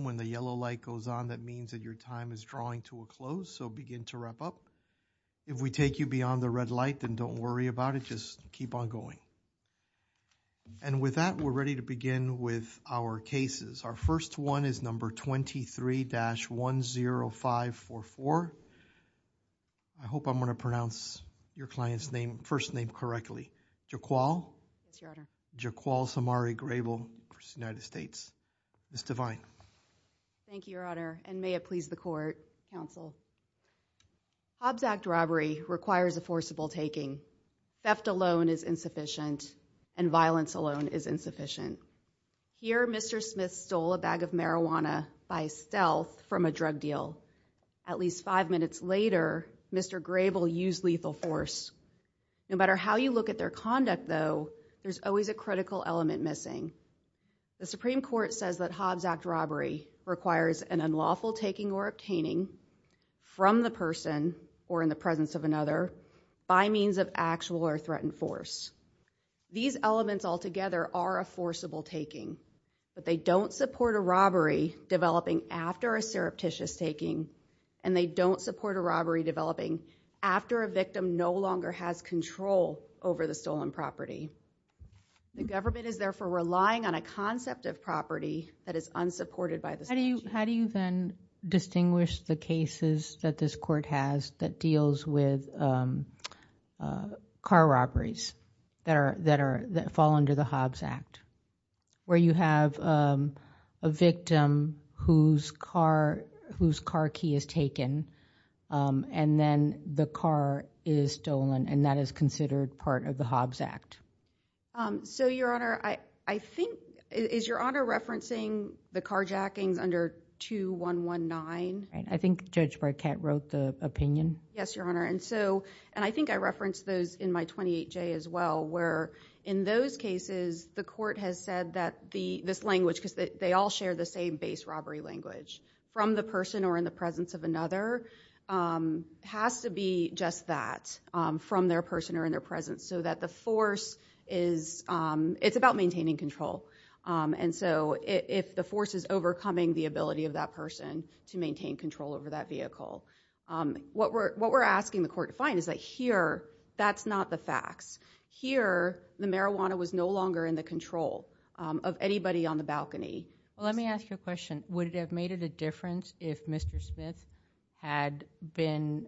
when the yellow light goes on that means that your time is drawing to a close so begin to wrap up. If we take you beyond the red light then don't worry about it just keep on going. And with that we're ready to begin with our cases. Our first one is number 23-10544. I hope I'm going to pronounce your client's name first name correctly. Jy'Quale. Jy'Quale Samari Grable, United States. Ms. Devine. Thank you your honor and may it please the court counsel. Hobbs Act robbery requires a forcible taking. Theft alone is insufficient and violence alone is insufficient. Here Mr. Smith stole a bag of marijuana by stealth from a drug deal. At least five minutes later Mr. Grable used lethal force. No matter how you look at their conduct though there's always a that Hobbs Act robbery requires an unlawful taking or obtaining from the person or in the presence of another by means of actual or threatened force. These elements altogether are a forcible taking but they don't support a robbery developing after a surreptitious taking and they don't support a robbery developing after a victim no longer has control over the stolen property. The government is therefore relying on a concept of property that is unsupported by the state. How do you how do you then distinguish the cases that this court has that deals with car robberies that are that are that fall under the Hobbs Act where you have a victim whose car whose car key is taken and then the car is stolen and that is considered part of the Hobbs Act? Um so your honor I I think is your honor referencing the carjackings under 2-119? Right I think Judge Burkett wrote the opinion. Yes your honor and so and I think I referenced those in my 28J as well where in those cases the court has said that the this language because they all share the same base robbery language from the person or in the presence of another has to be just that from their person or in their presence so that the force is it's about maintaining control and so if the force is overcoming the ability of that person to maintain control over that vehicle what we're what we're asking the court to find is that here that's not the facts. Here the marijuana was no longer in the control of anybody on the balcony. Let me ask you a question. Would it have made it a difference if Mr. Smith had been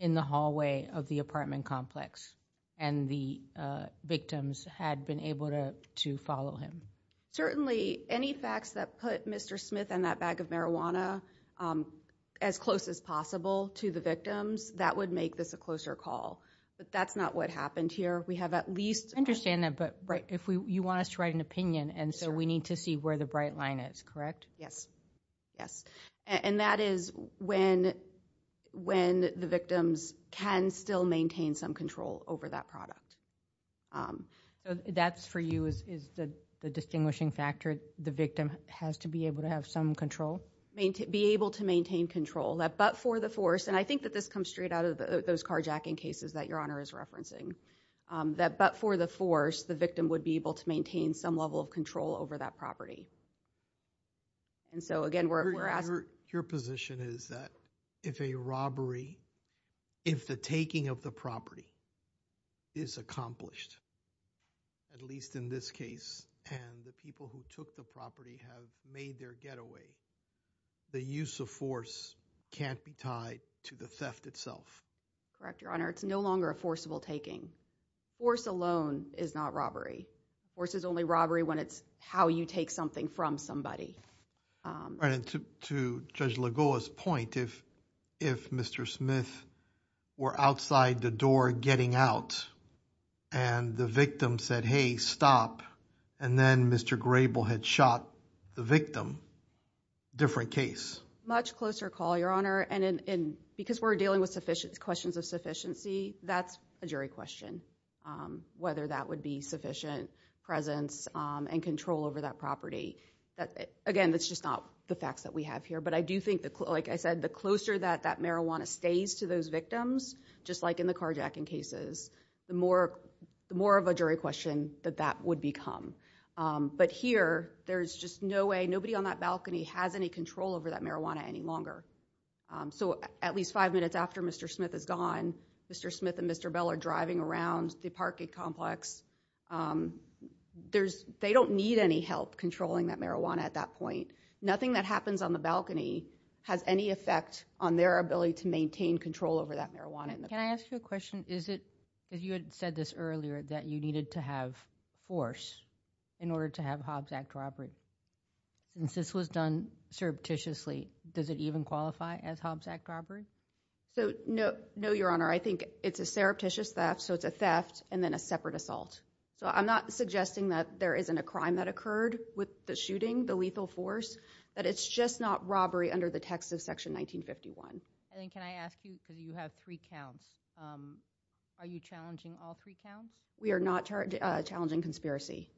in the hallway of the apartment complex and the victims had been able to to follow him? Certainly any facts that put Mr. Smith and that bag of marijuana as close as possible to the victims that would make this a closer call but that's not what happened here. We have at least understand that but right if we you want us to write an opinion and so we need to where the bright line is correct? Yes yes and that is when when the victims can still maintain some control over that product. So that's for you is the distinguishing factor the victim has to be able to have some control? Be able to maintain control that but for the force and I think that this comes straight out of those carjacking cases that your honor is referencing that but for the the victim would be able to maintain some level of control over that property and so again we're asking your position is that if a robbery if the taking of the property is accomplished at least in this case and the people who took the property have made their getaway the use of force can't be tied to the theft itself. Correct your honor it's no longer forcible taking. Force alone is not robbery. Force is only robbery when it's how you take something from somebody. Right and to Judge Lagoa's point if if Mr. Smith were outside the door getting out and the victim said hey stop and then Mr. Grable had shot the victim different case? Much closer call your honor and in because we're dealing with sufficient questions of sufficiency that's a jury question whether that would be sufficient presence and control over that property that again that's just not the facts that we have here but I do think that like I said the closer that that marijuana stays to those victims just like in the carjacking cases the more more of a jury question that that would become but here there's just no way nobody on that balcony has any control over that marijuana any longer so at least five minutes after Mr. Smith is gone Mr. Smith and Mr. Bell are driving around the parking complex there's they don't need any help controlling that marijuana at that point nothing that happens on the balcony has any effect on their ability to maintain control over that marijuana. Can I ask you a question is it if you had said this earlier that you needed to have force in order to have Hobbs Act robbery since this was done surreptitiously does it even qualify as Hobbs Act robbery? So no no your honor I think it's a surreptitious theft so it's a theft and then a separate assault so I'm not suggesting that there isn't a crime that occurred with the shooting the lethal force that it's just not robbery under the text of section 1951. I think can I ask you because you have three counts are you challenging all three counts? We are not challenging conspiracy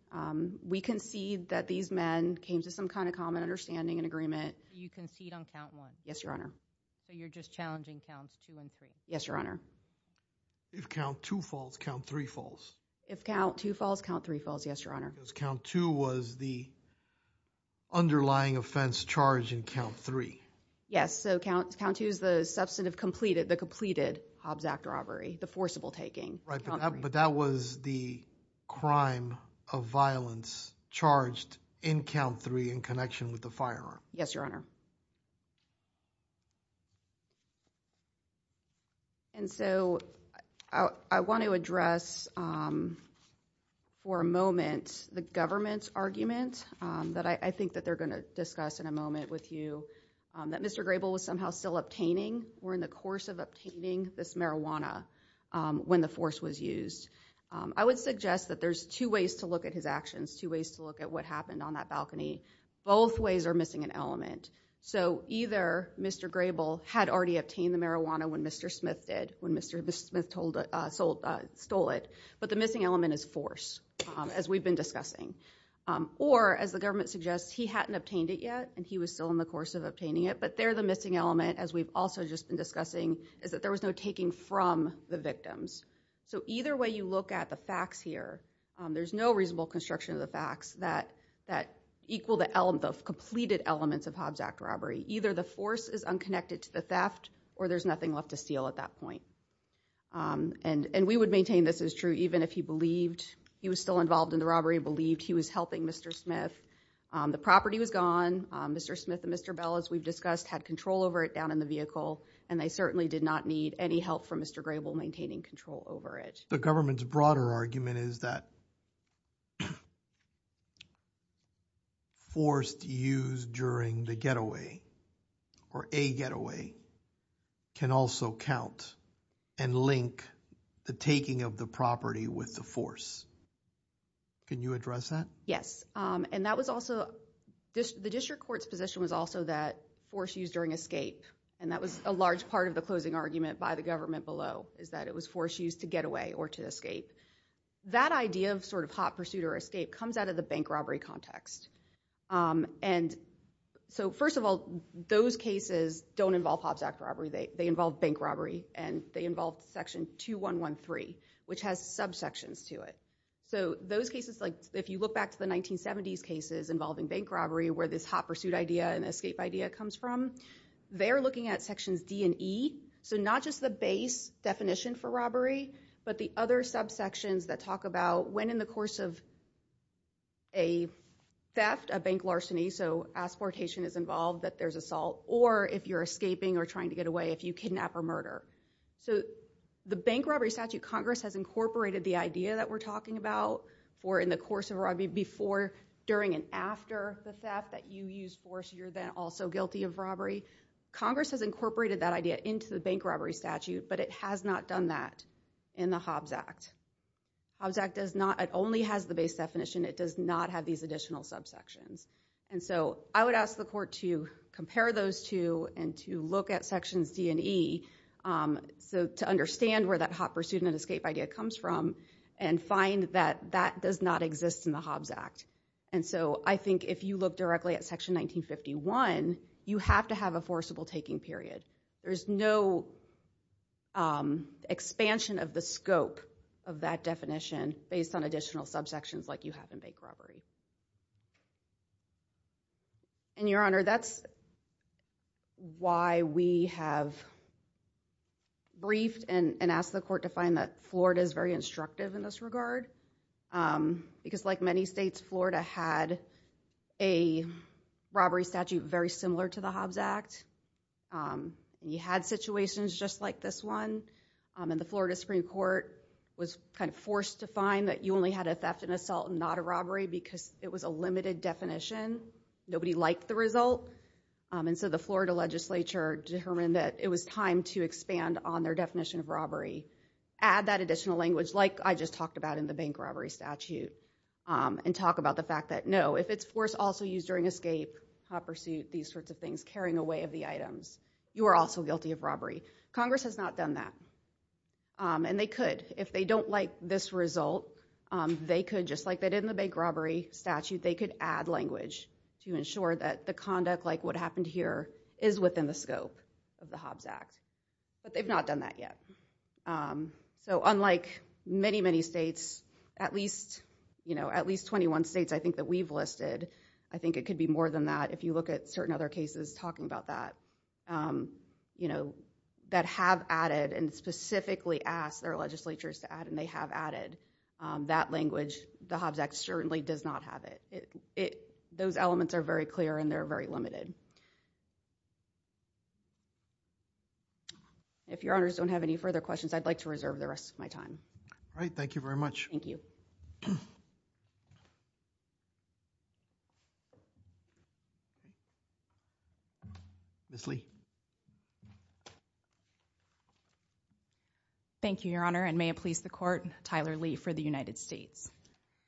we concede that these men came to some kind of common understanding and agreement. You concede on count one? Yes your honor. So you're just challenging counts two and three? Yes your honor. If count two falls count three falls? If count two falls count three falls yes your honor. Because count two was the underlying offense charge in count three? Yes so count count two is the substantive completed the completed Hobbs Act robbery the forcible taking. Right but that was the crime of violence charged in count three in connection with the firearm? Yes your honor. And so I want to address for a moment the government's argument that I think that they're going to discuss in a moment with you that Mr. Grable was somehow still obtaining or in the course of obtaining this marijuana when the force was used. I would suggest that there's two ways to look at his actions two ways to look at what happened on that balcony both ways are missing an element so either Mr. Grable had already obtained the marijuana when Mr. Smith did when Mr. Smith told it sold stole it but the missing element is force as we've been discussing or as the government suggests he hadn't obtained it yet and he was still in the course of obtaining it but they're the missing element as we've also just been discussing is that there was no taking from the victims so either way you look at the facts here there's no reasonable construction of the facts that that equal the element of completed elements of Hobbs Act robbery either the force is unconnected to the theft or there's nothing left to steal at that point and and we would maintain this is true even if he believed he was still involved in the robbery believed he was helping Mr. Smith the property was gone Mr. Smith and Mr. Bell as we've discussed had control over it down in the vehicle and they certainly did not need any help from Mr. Grable maintaining control over it the government's broader argument is that forced use during the getaway or a getaway can also count and link the taking of the property with the force can you address that yes um and that was also the district court's position was also that force used during escape and that was a large part of the closing argument by the is that it was force used to get away or to escape that idea of sort of hot pursuit or escape comes out of the bank robbery context um and so first of all those cases don't involve Hobbs Act robbery they they involve bank robbery and they involve section 2113 which has subsections to it so those cases like if you look back to the 1970s cases involving bank robbery where this hot pursuit idea and escape idea comes from they're looking at sections d and e so not just the base definition for robbery but the other subsections that talk about when in the course of a theft a bank larceny so asportation is involved that there's assault or if you're escaping or trying to get away if you kidnap or murder so the bank robbery statute congress has incorporated the idea that we're or in the course of robbery before during and after the theft that you use force you're then also guilty of robbery congress has incorporated that idea into the bank robbery statute but it has not done that in the Hobbs Act. Hobbs Act does not it only has the base definition it does not have these additional subsections and so I would ask the court to compare those two and to look at d and e so to understand where that hot pursuit and escape idea comes from and find that that does not exist in the Hobbs Act and so I think if you look directly at section 1951 you have to have a forcible taking period there's no expansion of the scope of that definition based on additional subsections like you have in bank robbery. And your honor that's why we have briefed and asked the court to find that Florida is very instructive in this regard because like many states Florida had a robbery statute very similar to the Hobbs Act you had situations just like this one and the Florida Supreme Court was kind of it was a limited definition nobody liked the result and so the Florida legislature determined that it was time to expand on their definition of robbery add that additional language like I just talked about in the bank robbery statute and talk about the fact that no if it's force also used during escape hot pursuit these sorts of things carrying away of the items you are also guilty of robbery congress has not done that and they could if they don't like this result they could just like they did in the bank robbery statute they could add language to ensure that the conduct like what happened here is within the scope of the Hobbs Act but they've not done that yet. So unlike many many states at least you know at least 21 states I think that we've listed I think it could be more than that if you look at certain other cases talking about that you know that have added and specifically asked their legislatures to add and they have added that language the Hobbs Act certainly does not have it those elements are very clear and they're very limited. If your honors don't have any further questions I'd like to reserve the rest of my time. All right thank you very much. Thank you. Miss Lee. Thank you your honor and may it please the court Tyler Lee for the United States.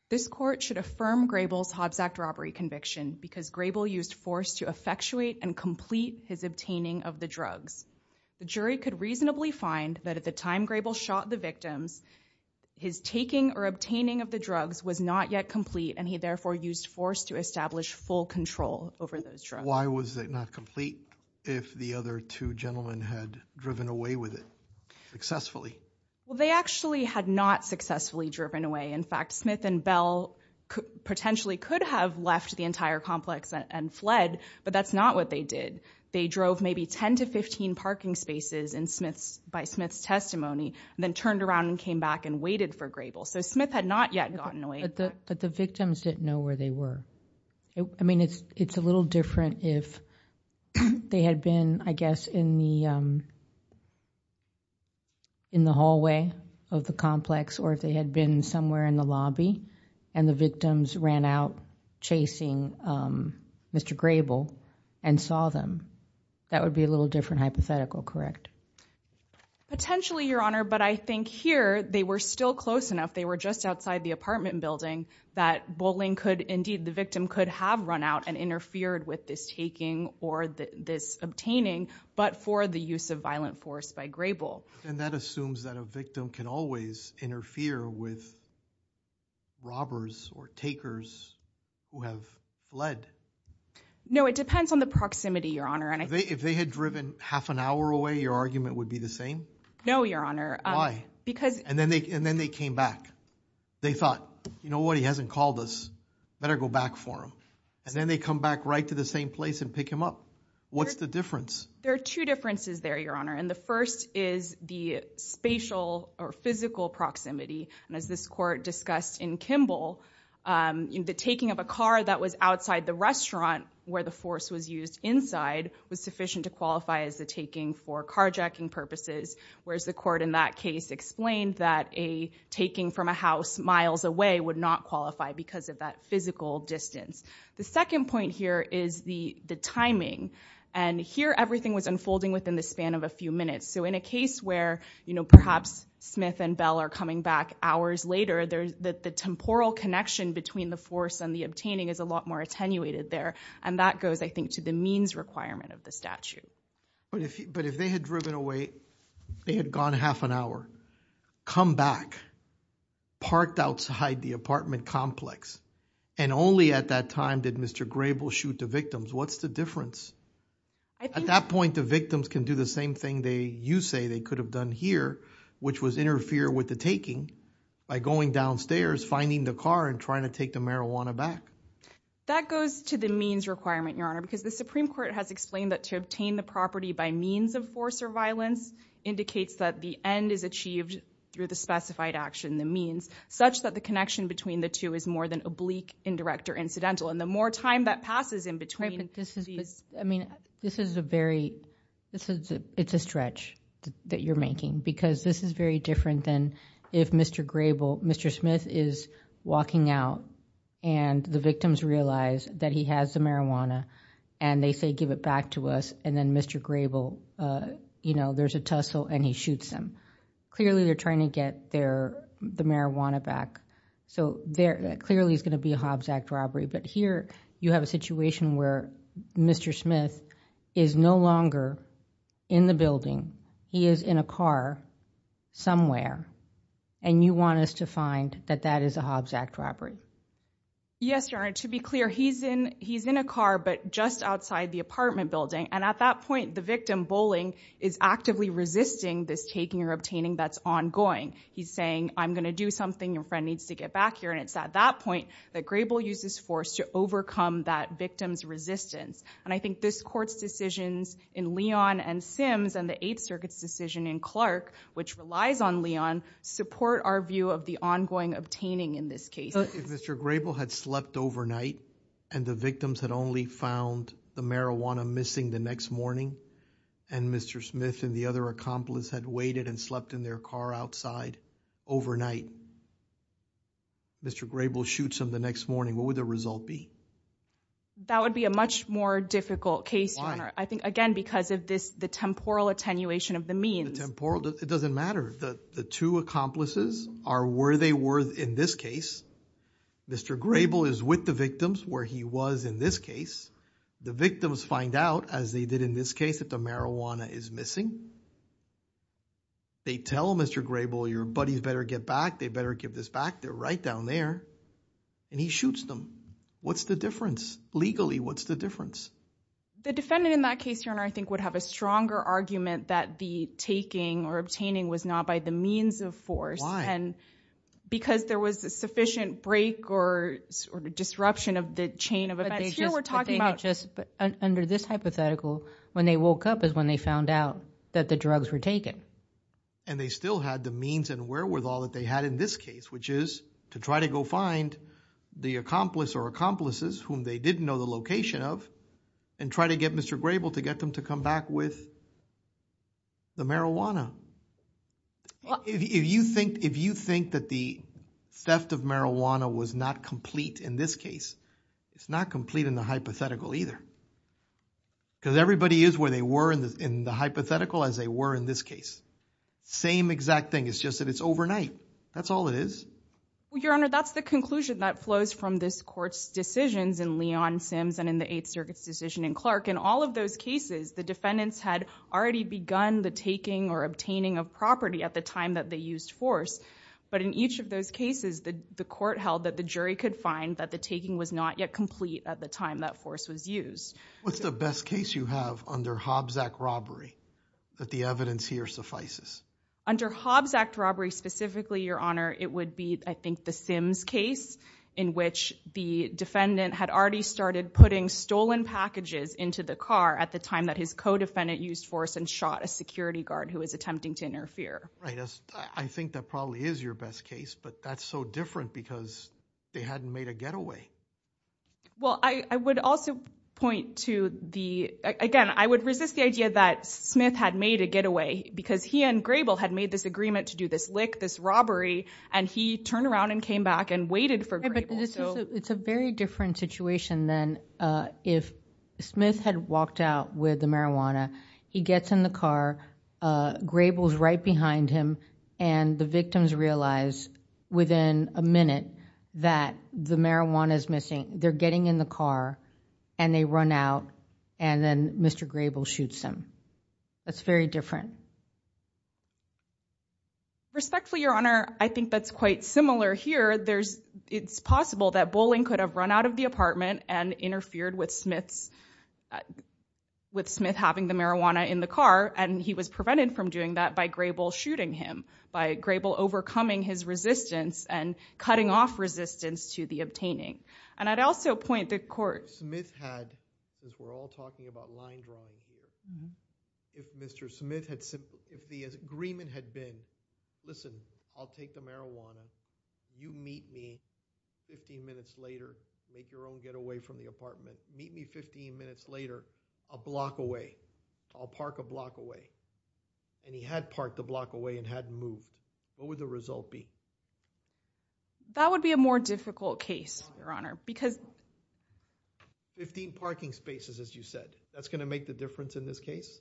This court should affirm Grable's Hobbs Act robbery conviction because Grable used force to effectuate and complete his obtaining of the drugs. The jury could reasonably find that at the time Grable shot the victims his taking or obtaining of the drugs was not yet complete and he therefore used force to establish full control over those drugs. Why was it not complete if the victim was not yet complete? The other two gentlemen had driven away with it successfully. Well they actually had not successfully driven away. In fact Smith and Bell potentially could have left the entire complex and fled but that's not what they did. They drove maybe 10 to 15 parking spaces in Smith's by Smith's testimony then turned around and came back and waited for Grable. So Smith had not yet gotten away. But the victims didn't know where they were. I mean it's it's a little different if they had been I guess in the in the hallway of the complex or if they had been somewhere in the lobby and the victims ran out chasing Mr. Grable and saw them. That would be a little different hypothetical correct? Potentially your honor but I think here they were still close enough. They were just outside the apartment building that bowling could indeed the victim could have run out and interfered with this taking or this obtaining but for the use of violent force by Grable. And that assumes that a victim can always interfere with robbers or takers who have led. No it depends on the proximity your honor. And if they had driven half an hour away your argument would be the same? No your honor. Why? Because. And then they and then they came back. They thought you know what he hasn't called us better go back for him. And then they come back right to the same place and pick him up. What's the difference? There are two differences there your honor. And the first is the spatial or physical proximity. And as this court discussed in Kimball the taking of a car that was outside the restaurant where the force was used inside was sufficient to qualify as the taking for carjacking purposes. Whereas the court in that case explained that a taking from a house miles away would not qualify because of that physical distance. The second point here is the the timing. And here everything was unfolding within the span of a few minutes. So in a case where you know perhaps Smith and Bell are coming back hours later there's that the temporal connection between the force and the obtaining is a lot more attenuated there. And that goes I think to the means requirement of the statute. But if but if they had driven away they had gone half an hour come back parked outside the apartment complex and only at that time did Mr. Grable shoot the victims. What's the difference? At that point the victims can do the same thing they you say they could have done here which was interfere with the taking by going downstairs finding the car and trying to take the marijuana back. That goes to the means requirement your honor. Because the Supreme Court has explained that to obtain the property by means of force or violence indicates that the end is achieved through the specified action the means. Such that the connection between the two is more than oblique indirect or incidental. And the more time that passes in between this is I mean this is a very this is it's a stretch that you're making. Because this is very different than if Mr. Grable Mr. Smith is walking out and the victims realize that he has the marijuana and they say give it back to us. And then Mr. Grable you know there's a tussle and he shoots them. Clearly they're trying to get their the marijuana back. So there clearly is going to be a Hobbs Act robbery. But here you have a situation where Mr. Smith is no longer in the building. He is in a car somewhere and you want us to find that that is a Hobbs Act robbery. Yes your honor to be clear he's in he's in a car but just outside the apartment building. And at that point the victim bowling is actively resisting this taking or obtaining that's ongoing. He's saying I'm going to do something your friend needs to get back here. And it's at that point that Grable uses force to overcome that victim's resistance. And I think this court's decisions in Leon and Sims and the eighth circuit's decision in Clark. Which relies on Leon support our view of the ongoing obtaining in this case. If Mr. Grable had slept overnight. And the victims had only found the marijuana missing the next morning. And Mr. Smith and the other accomplice had waited and slept in their car outside overnight. Mr. Grable shoots him the next morning what would the result be? That would be a much more difficult case your honor. I think again because of this the temporal attenuation of the means. Temporal it doesn't matter that the two accomplices are where they were in this case. Mr. Grable is with the victims where he was in this case. The victims find out as they did in this case that the marijuana is missing. They tell Mr. Grable your buddies better get back they better give this back. They're right down there and he shoots them. What's the difference legally what's the difference? The defendant in that case your honor I think would have a stronger argument. That the taking or obtaining was not by the means of force. And because there was a sufficient break or sort of disruption of the chain of events. Under this hypothetical when they woke up is when they found out that the drugs were taken. And they still had the means and wherewithal that they had in this case which is to try to go find the accomplice or accomplices whom they didn't know the location of. And try to get Mr. Grable to get them to come back with the marijuana. If you think if you think that the theft of marijuana was not complete in this case. It's not complete in the hypothetical either. Because everybody is where they were in the in the hypothetical as they were in this case. Same exact thing it's just that it's overnight that's all it is. Your honor that's the conclusion that flows from this court's decisions in Leon Sims. And in the eighth circuit's decision in Clark in all of those cases the defendants had already begun the taking or obtaining of property at the time that they used force. But in each of those cases the the court held that the jury could find that the taking was not yet complete at the time that force was used. What's the best case you have under Hobbs Act robbery that the evidence here suffices? Under Hobbs Act robbery specifically your honor it would be I think the Sims case in which the defendant had already started putting stolen packages into the car at the time that his co-defendant used force and shot a security guard who was attempting to interfere. Right I think that probably is your best case but that's so different because they hadn't made a getaway. Well I would also point to the again I would resist the idea that Smith had made a getaway because he and Grable had made this agreement to do this lick this robbery and he turned around and came back and waited for Grable. It's a very different situation than if Smith had walked out with the marijuana he gets in the car Grable's right behind him and the victims realize within a minute that the marijuana is missing they're getting in the car and they run out and then Mr. Grable shoots him. That's very different. Respectfully your honor I think that's quite similar here there's it's possible that Bowling could have run out of the apartment and interfered with Smith's with Smith having the marijuana in the car and he was prevented from doing that by Grable shooting him by Grable overcoming his resistance and cutting off resistance to the obtaining and I'd also point the court. Smith had as we're all talking about line drawing here if Mr. Smith had said if the agreement had been listen I'll take the marijuana you meet me 15 minutes later make your own getaway from the apartment meet me 15 minutes later a block away I'll park a block away and he had parked a block away and hadn't moved what would the result be? That would be a more difficult case your honor because 15 parking spaces as you said that's going to make the difference in this case.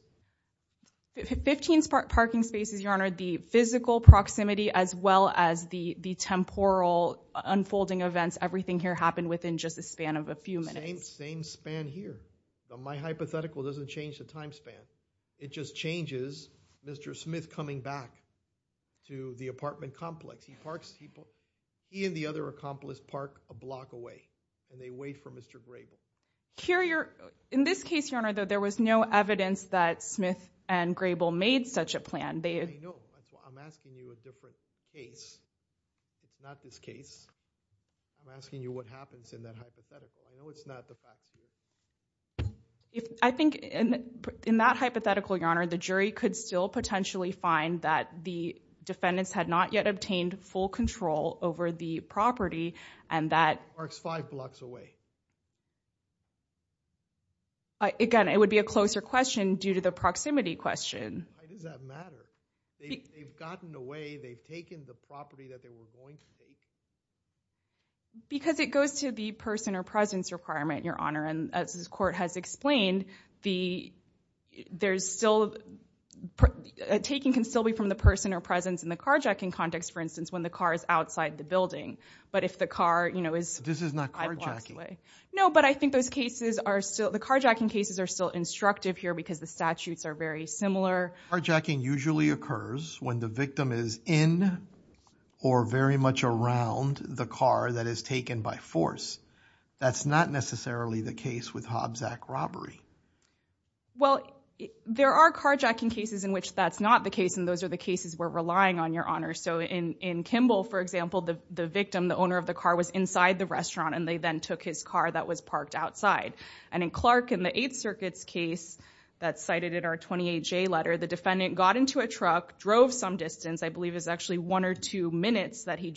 15 parking spaces your honor the physical proximity as well as the the temporal unfolding events everything here happened within just a span of a few minutes. Same span here my hypothetical doesn't change the time span it just changes Mr. Smith coming back to the apartment complex he he and the other accomplice park a block away and they wait for Mr. Grable. Here you're in this case your honor though there was no evidence that Smith and Grable made such a plan. I know I'm asking you a different case it's not this case I'm asking you what happens in that hypothetical I know it's not the fact. I think in that hypothetical your honor the jury could still potentially find that the defendants had not yet obtained full control over the property and that parks five blocks away. Again it would be a closer question due to the proximity question. Why does that matter? They've gotten away they've taken the property that they were going to. Because it goes to the person or presence requirement your honor and as this taking can still be from the person or presence in the carjacking context for instance when the car is outside the building but if the car you know is this is not carjacking. No but I think those cases are still the carjacking cases are still instructive here because the statutes are very similar. Carjacking usually occurs when the victim is in or very much around the car that is that's not necessarily the case with Hobbs Act robbery. Well there are carjacking cases in which that's not the case and those are the cases we're relying on your honor. So in in Kimball for example the the victim the owner of the car was inside the restaurant and they then took his car that was parked outside and in Clark in the Eighth Circuit's case that's cited in our 28 J letter the defendant got into a truck drove some distance I believe is actually one or two minutes that he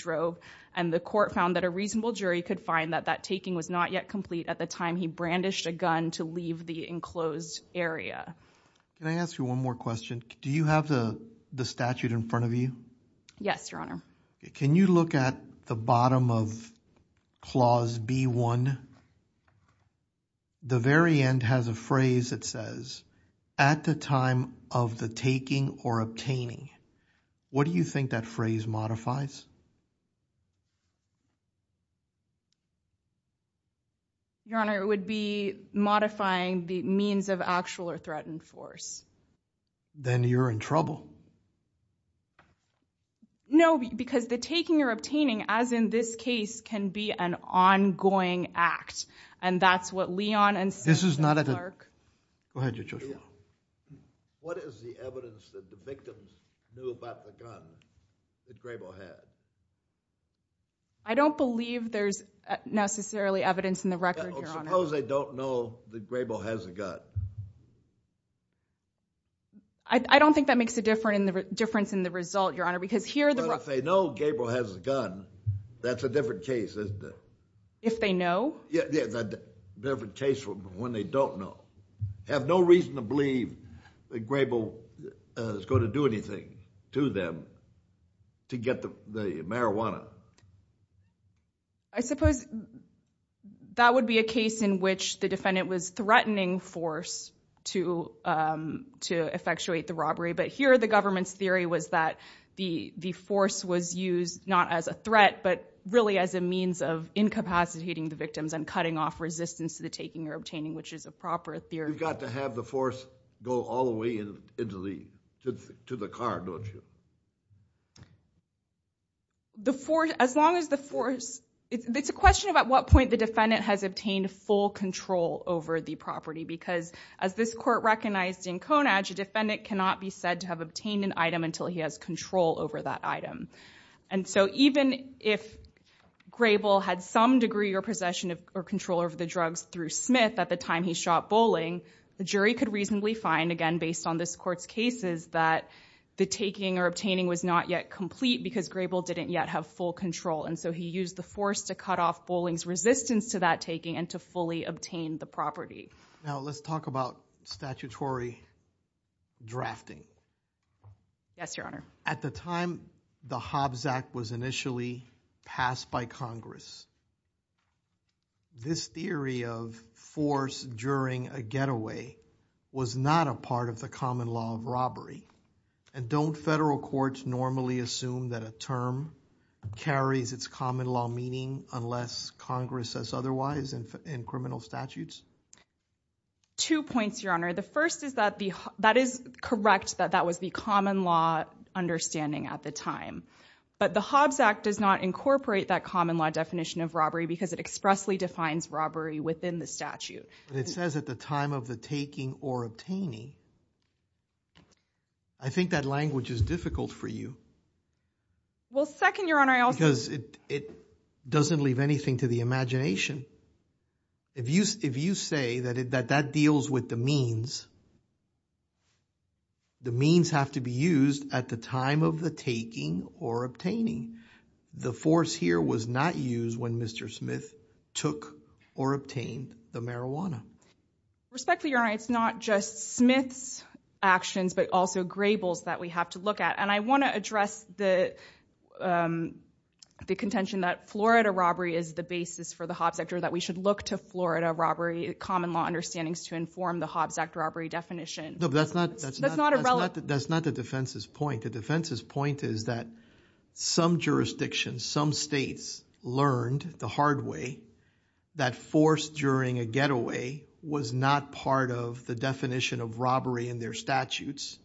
could find that that taking was not yet complete at the time he brandished a gun to leave the enclosed area. Can I ask you one more question? Do you have the the statute in front of you? Yes your honor. Can you look at the bottom of clause b1 the very end has a phrase that says at the time of the taking or obtaining what do you think that phrase modifies? Your honor it would be modifying the means of actual or threatened force. Then you're in trouble. No because the taking or obtaining as in this case can be an ongoing act and that's what Leon and this is not at the park. Go ahead your choice. What is the evidence that the victim knew about that Grable had? I don't believe there's necessarily evidence in the record. Suppose they don't know that Grable has a gun. I don't think that makes a difference in the result your honor because here if they know Gable has a gun that's a different case isn't it? If they know? Yeah the different case from when they don't know. Have no reason to believe that Grable is going to do anything to them to get the marijuana. I suppose that would be a case in which the defendant was threatening force to effectuate the robbery but here the government's theory was that the force was used not as a threat but really as a means of incapacitating the victims and cutting off resistance to the taking or obtaining which is a proper theory. You've got to have the force go all the way into the to the car don't you? The force as long as the force it's a question of at what point the defendant has obtained full control over the property because as this court recognized in Konadge a defendant cannot be said to have obtained an item until he has control over that item and so even if Grable had some degree or possession of or control over the drugs through Smith at the time he shot Bowling the jury could reasonably find again based on this court's cases that the taking or obtaining was not yet complete because Grable didn't yet have full control and so he used the force to cut off Bowling's resistance to that taking and to fully obtain the property. Now let's talk about statutory drafting. Yes your honor. At the time the Hobbs Act was initially passed by Congress this theory of force during a getaway was not a part of the common law of robbery and don't federal courts normally assume that a term carries its common law meaning unless Congress says otherwise in criminal statutes? Two points your honor the first is that the that is correct that that was the common law understanding at the time but the Hobbs Act does not incorporate that common law definition of robbery because it expressly defines robbery within the statute. It says at the time of the taking or obtaining I think that language is difficult for you. Well second your honor. Because it it doesn't leave anything to the imagination if you if you say that it that that deals with the means the means have to be used at the time of the taking or obtaining the force here was not used when Mr. Smith took or obtained the marijuana. Respectfully your honor it's not just Smith's actions but also Grable's that we have to look at and I want to address the the contention that Florida robbery is the basis for the Hobbs Act or that we should look to Florida robbery common law understandings to inform the Hobbs Act robbery definition. No that's not that's that's not irrelevant that's not the defense's point the defense's point is that some jurisdictions some states learned the hard way that force during a getaway was not part of the definition of robbery in their statutes.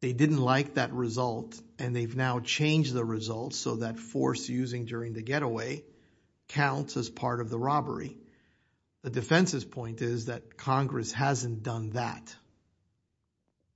They didn't like that result and they've now changed the results so that force using during the getaway counts as part of the robbery. The defense's point is that Congress hasn't done that.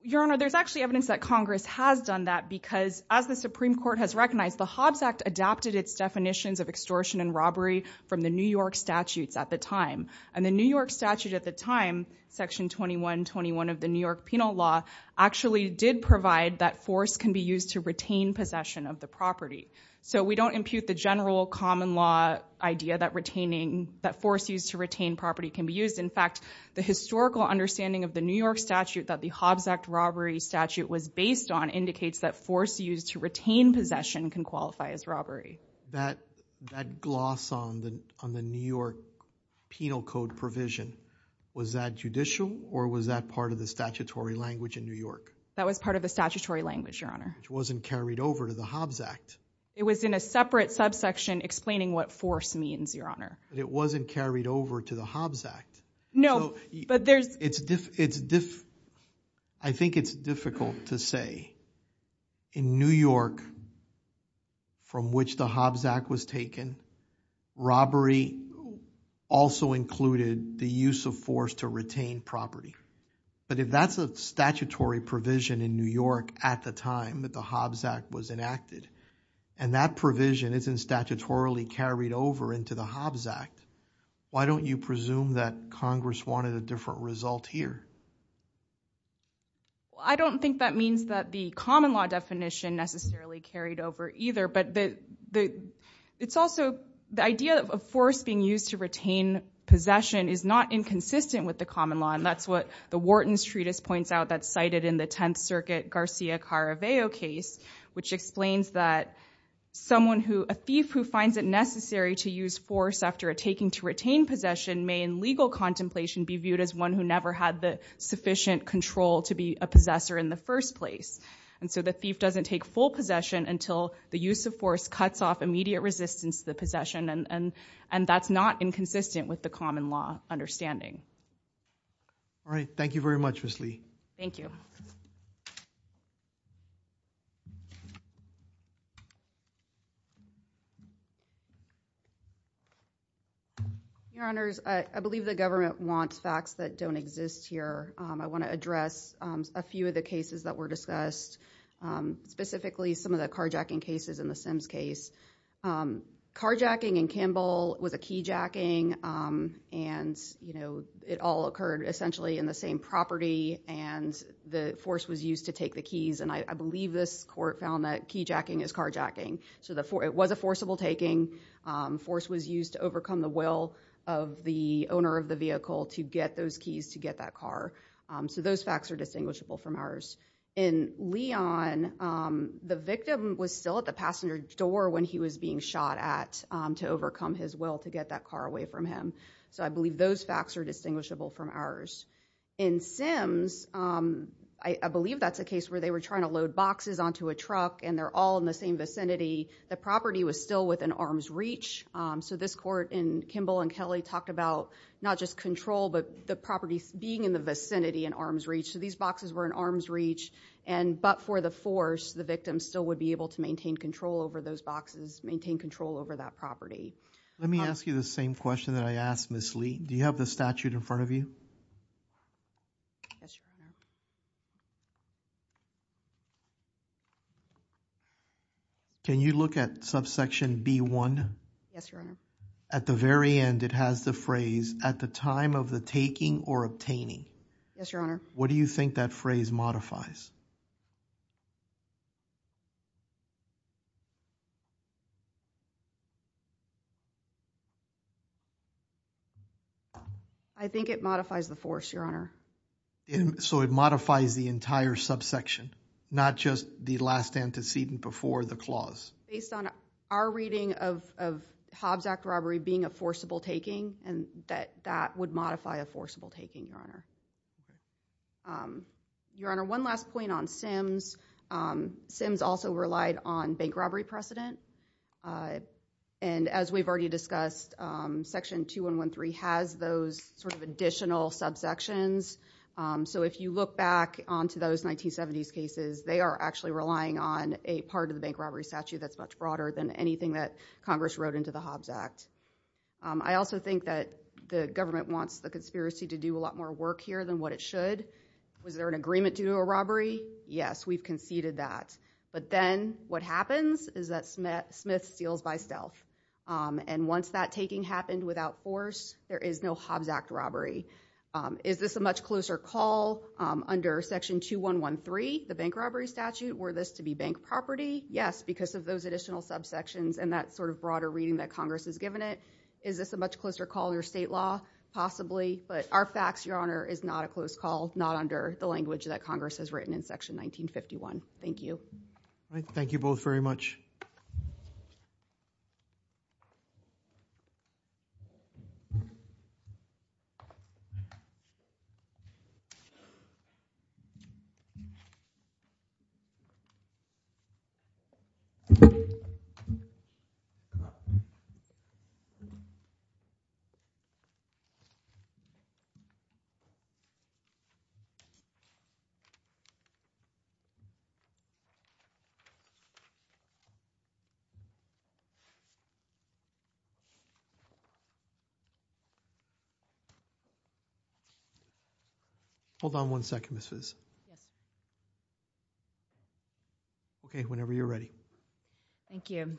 Your honor there's actually evidence that Congress has done that because as the Supreme Court has recognized the Hobbs Act adapted its definitions of extortion and robbery from the New York statutes at the time and the New York statute at the time section 2121 of the New York penal law actually did provide that force can be used to retain possession of the property. So we don't impute the general common law idea that retaining that force used to retain property can be used in fact the historical understanding of the New York statute that the Hobbs Act robbery statute was based on indicates that force used to retain possession can qualify as robbery. That that gloss on the on the New York penal code provision was that judicial or was that part of the statutory language in New York? That was part of the statutory language your honor. Which wasn't carried over to the Hobbs Act. It was in a separate subsection explaining what force means your honor. It wasn't carried over to the Hobbs Act. No but there's. It's it's I think it's difficult to say in New York from which the Hobbs Act was taken robbery also included the use of force to retain property. But if that's a statutory provision in New York at the time that the Hobbs Act was enacted and that provision isn't statutorily carried over into the Hobbs Act. Why don't you presume that congress wanted a different result here? I don't think that means that the common law definition necessarily carried over either but the it's also the idea of force being used to retain possession is not inconsistent with the common law and that's what the Wharton's treatise points out that's cited in the 10th circuit Garcia Caraveo case which explains that someone who a thief who finds it necessary to use force after a taking to retain possession may in legal contemplation be viewed as one who never had the sufficient control to be a possessor in the first place and so the thief doesn't take full possession until the use of force cuts off immediate resistance to the possession and and that's not inconsistent with the common law understanding. All right thank you very much Ms. Lee. Thank you. Your honors, I believe the government wants facts that don't exist here. I want to address a few of the cases that were discussed specifically some of the carjacking cases in the Sims case. Carjacking in Campbell was a keyjacking and you know it all occurred essentially in the same property and the force was used to take the keys and I believe this court found that keyjacking is carjacking so the for it was a forcible taking force was used to overcome the will of the owner of the vehicle to get those keys to get that car so those facts are distinguishable from ours. In shot at to overcome his will to get that car away from him so I believe those facts are distinguishable from ours. In Sims, I believe that's a case where they were trying to load boxes onto a truck and they're all in the same vicinity. The property was still within arm's reach so this court in Kimball and Kelly talked about not just control but the properties being in the vicinity in arm's reach so these boxes were in arm's reach and but for the force the still would be able to maintain control over those boxes maintain control over that property. Let me ask you the same question that I asked Miss Lee. Do you have the statute in front of you? Can you look at subsection b1? Yes your honor. At the very end it has the phrase at the time of the taking or obtaining. Yes your honor. What do you think that phrase modifies? I think it modifies the force your honor. And so it modifies the entire subsection not just the last antecedent before the clause. Based on our reading of of Hobbs Act robbery being a forcible taking and that that would modify a forcible taking your honor. Your honor one last point on Simms. Simms also relied on bank robbery precedent and as we've already discussed section 213 has those sort of additional subsections. So if you look back onto those 1970s cases they are actually relying on a part of the bank robbery statute that's much broader than anything that Congress wrote into the Hobbs Act. I also think that the government wants the conspiracy to do a lot more work here than what it should. Was there an agreement to do a robbery? Yes we've conceded that but then what happens is that Smith steals by stealth and once that taking happened without force there is no Hobbs Act robbery. Is this a much closer call under section 2113 the bank robbery statute were this to be bank property? Yes because of those additional subsections and that sort of broader reading that Congress has Is this a much closer call in your state law? Possibly but our facts your honor is not a close call not under the language that Congress has written in section 1951. Thank you. Thank Hold on one second Ms. Fiz. Okay whenever you're ready. Thank you.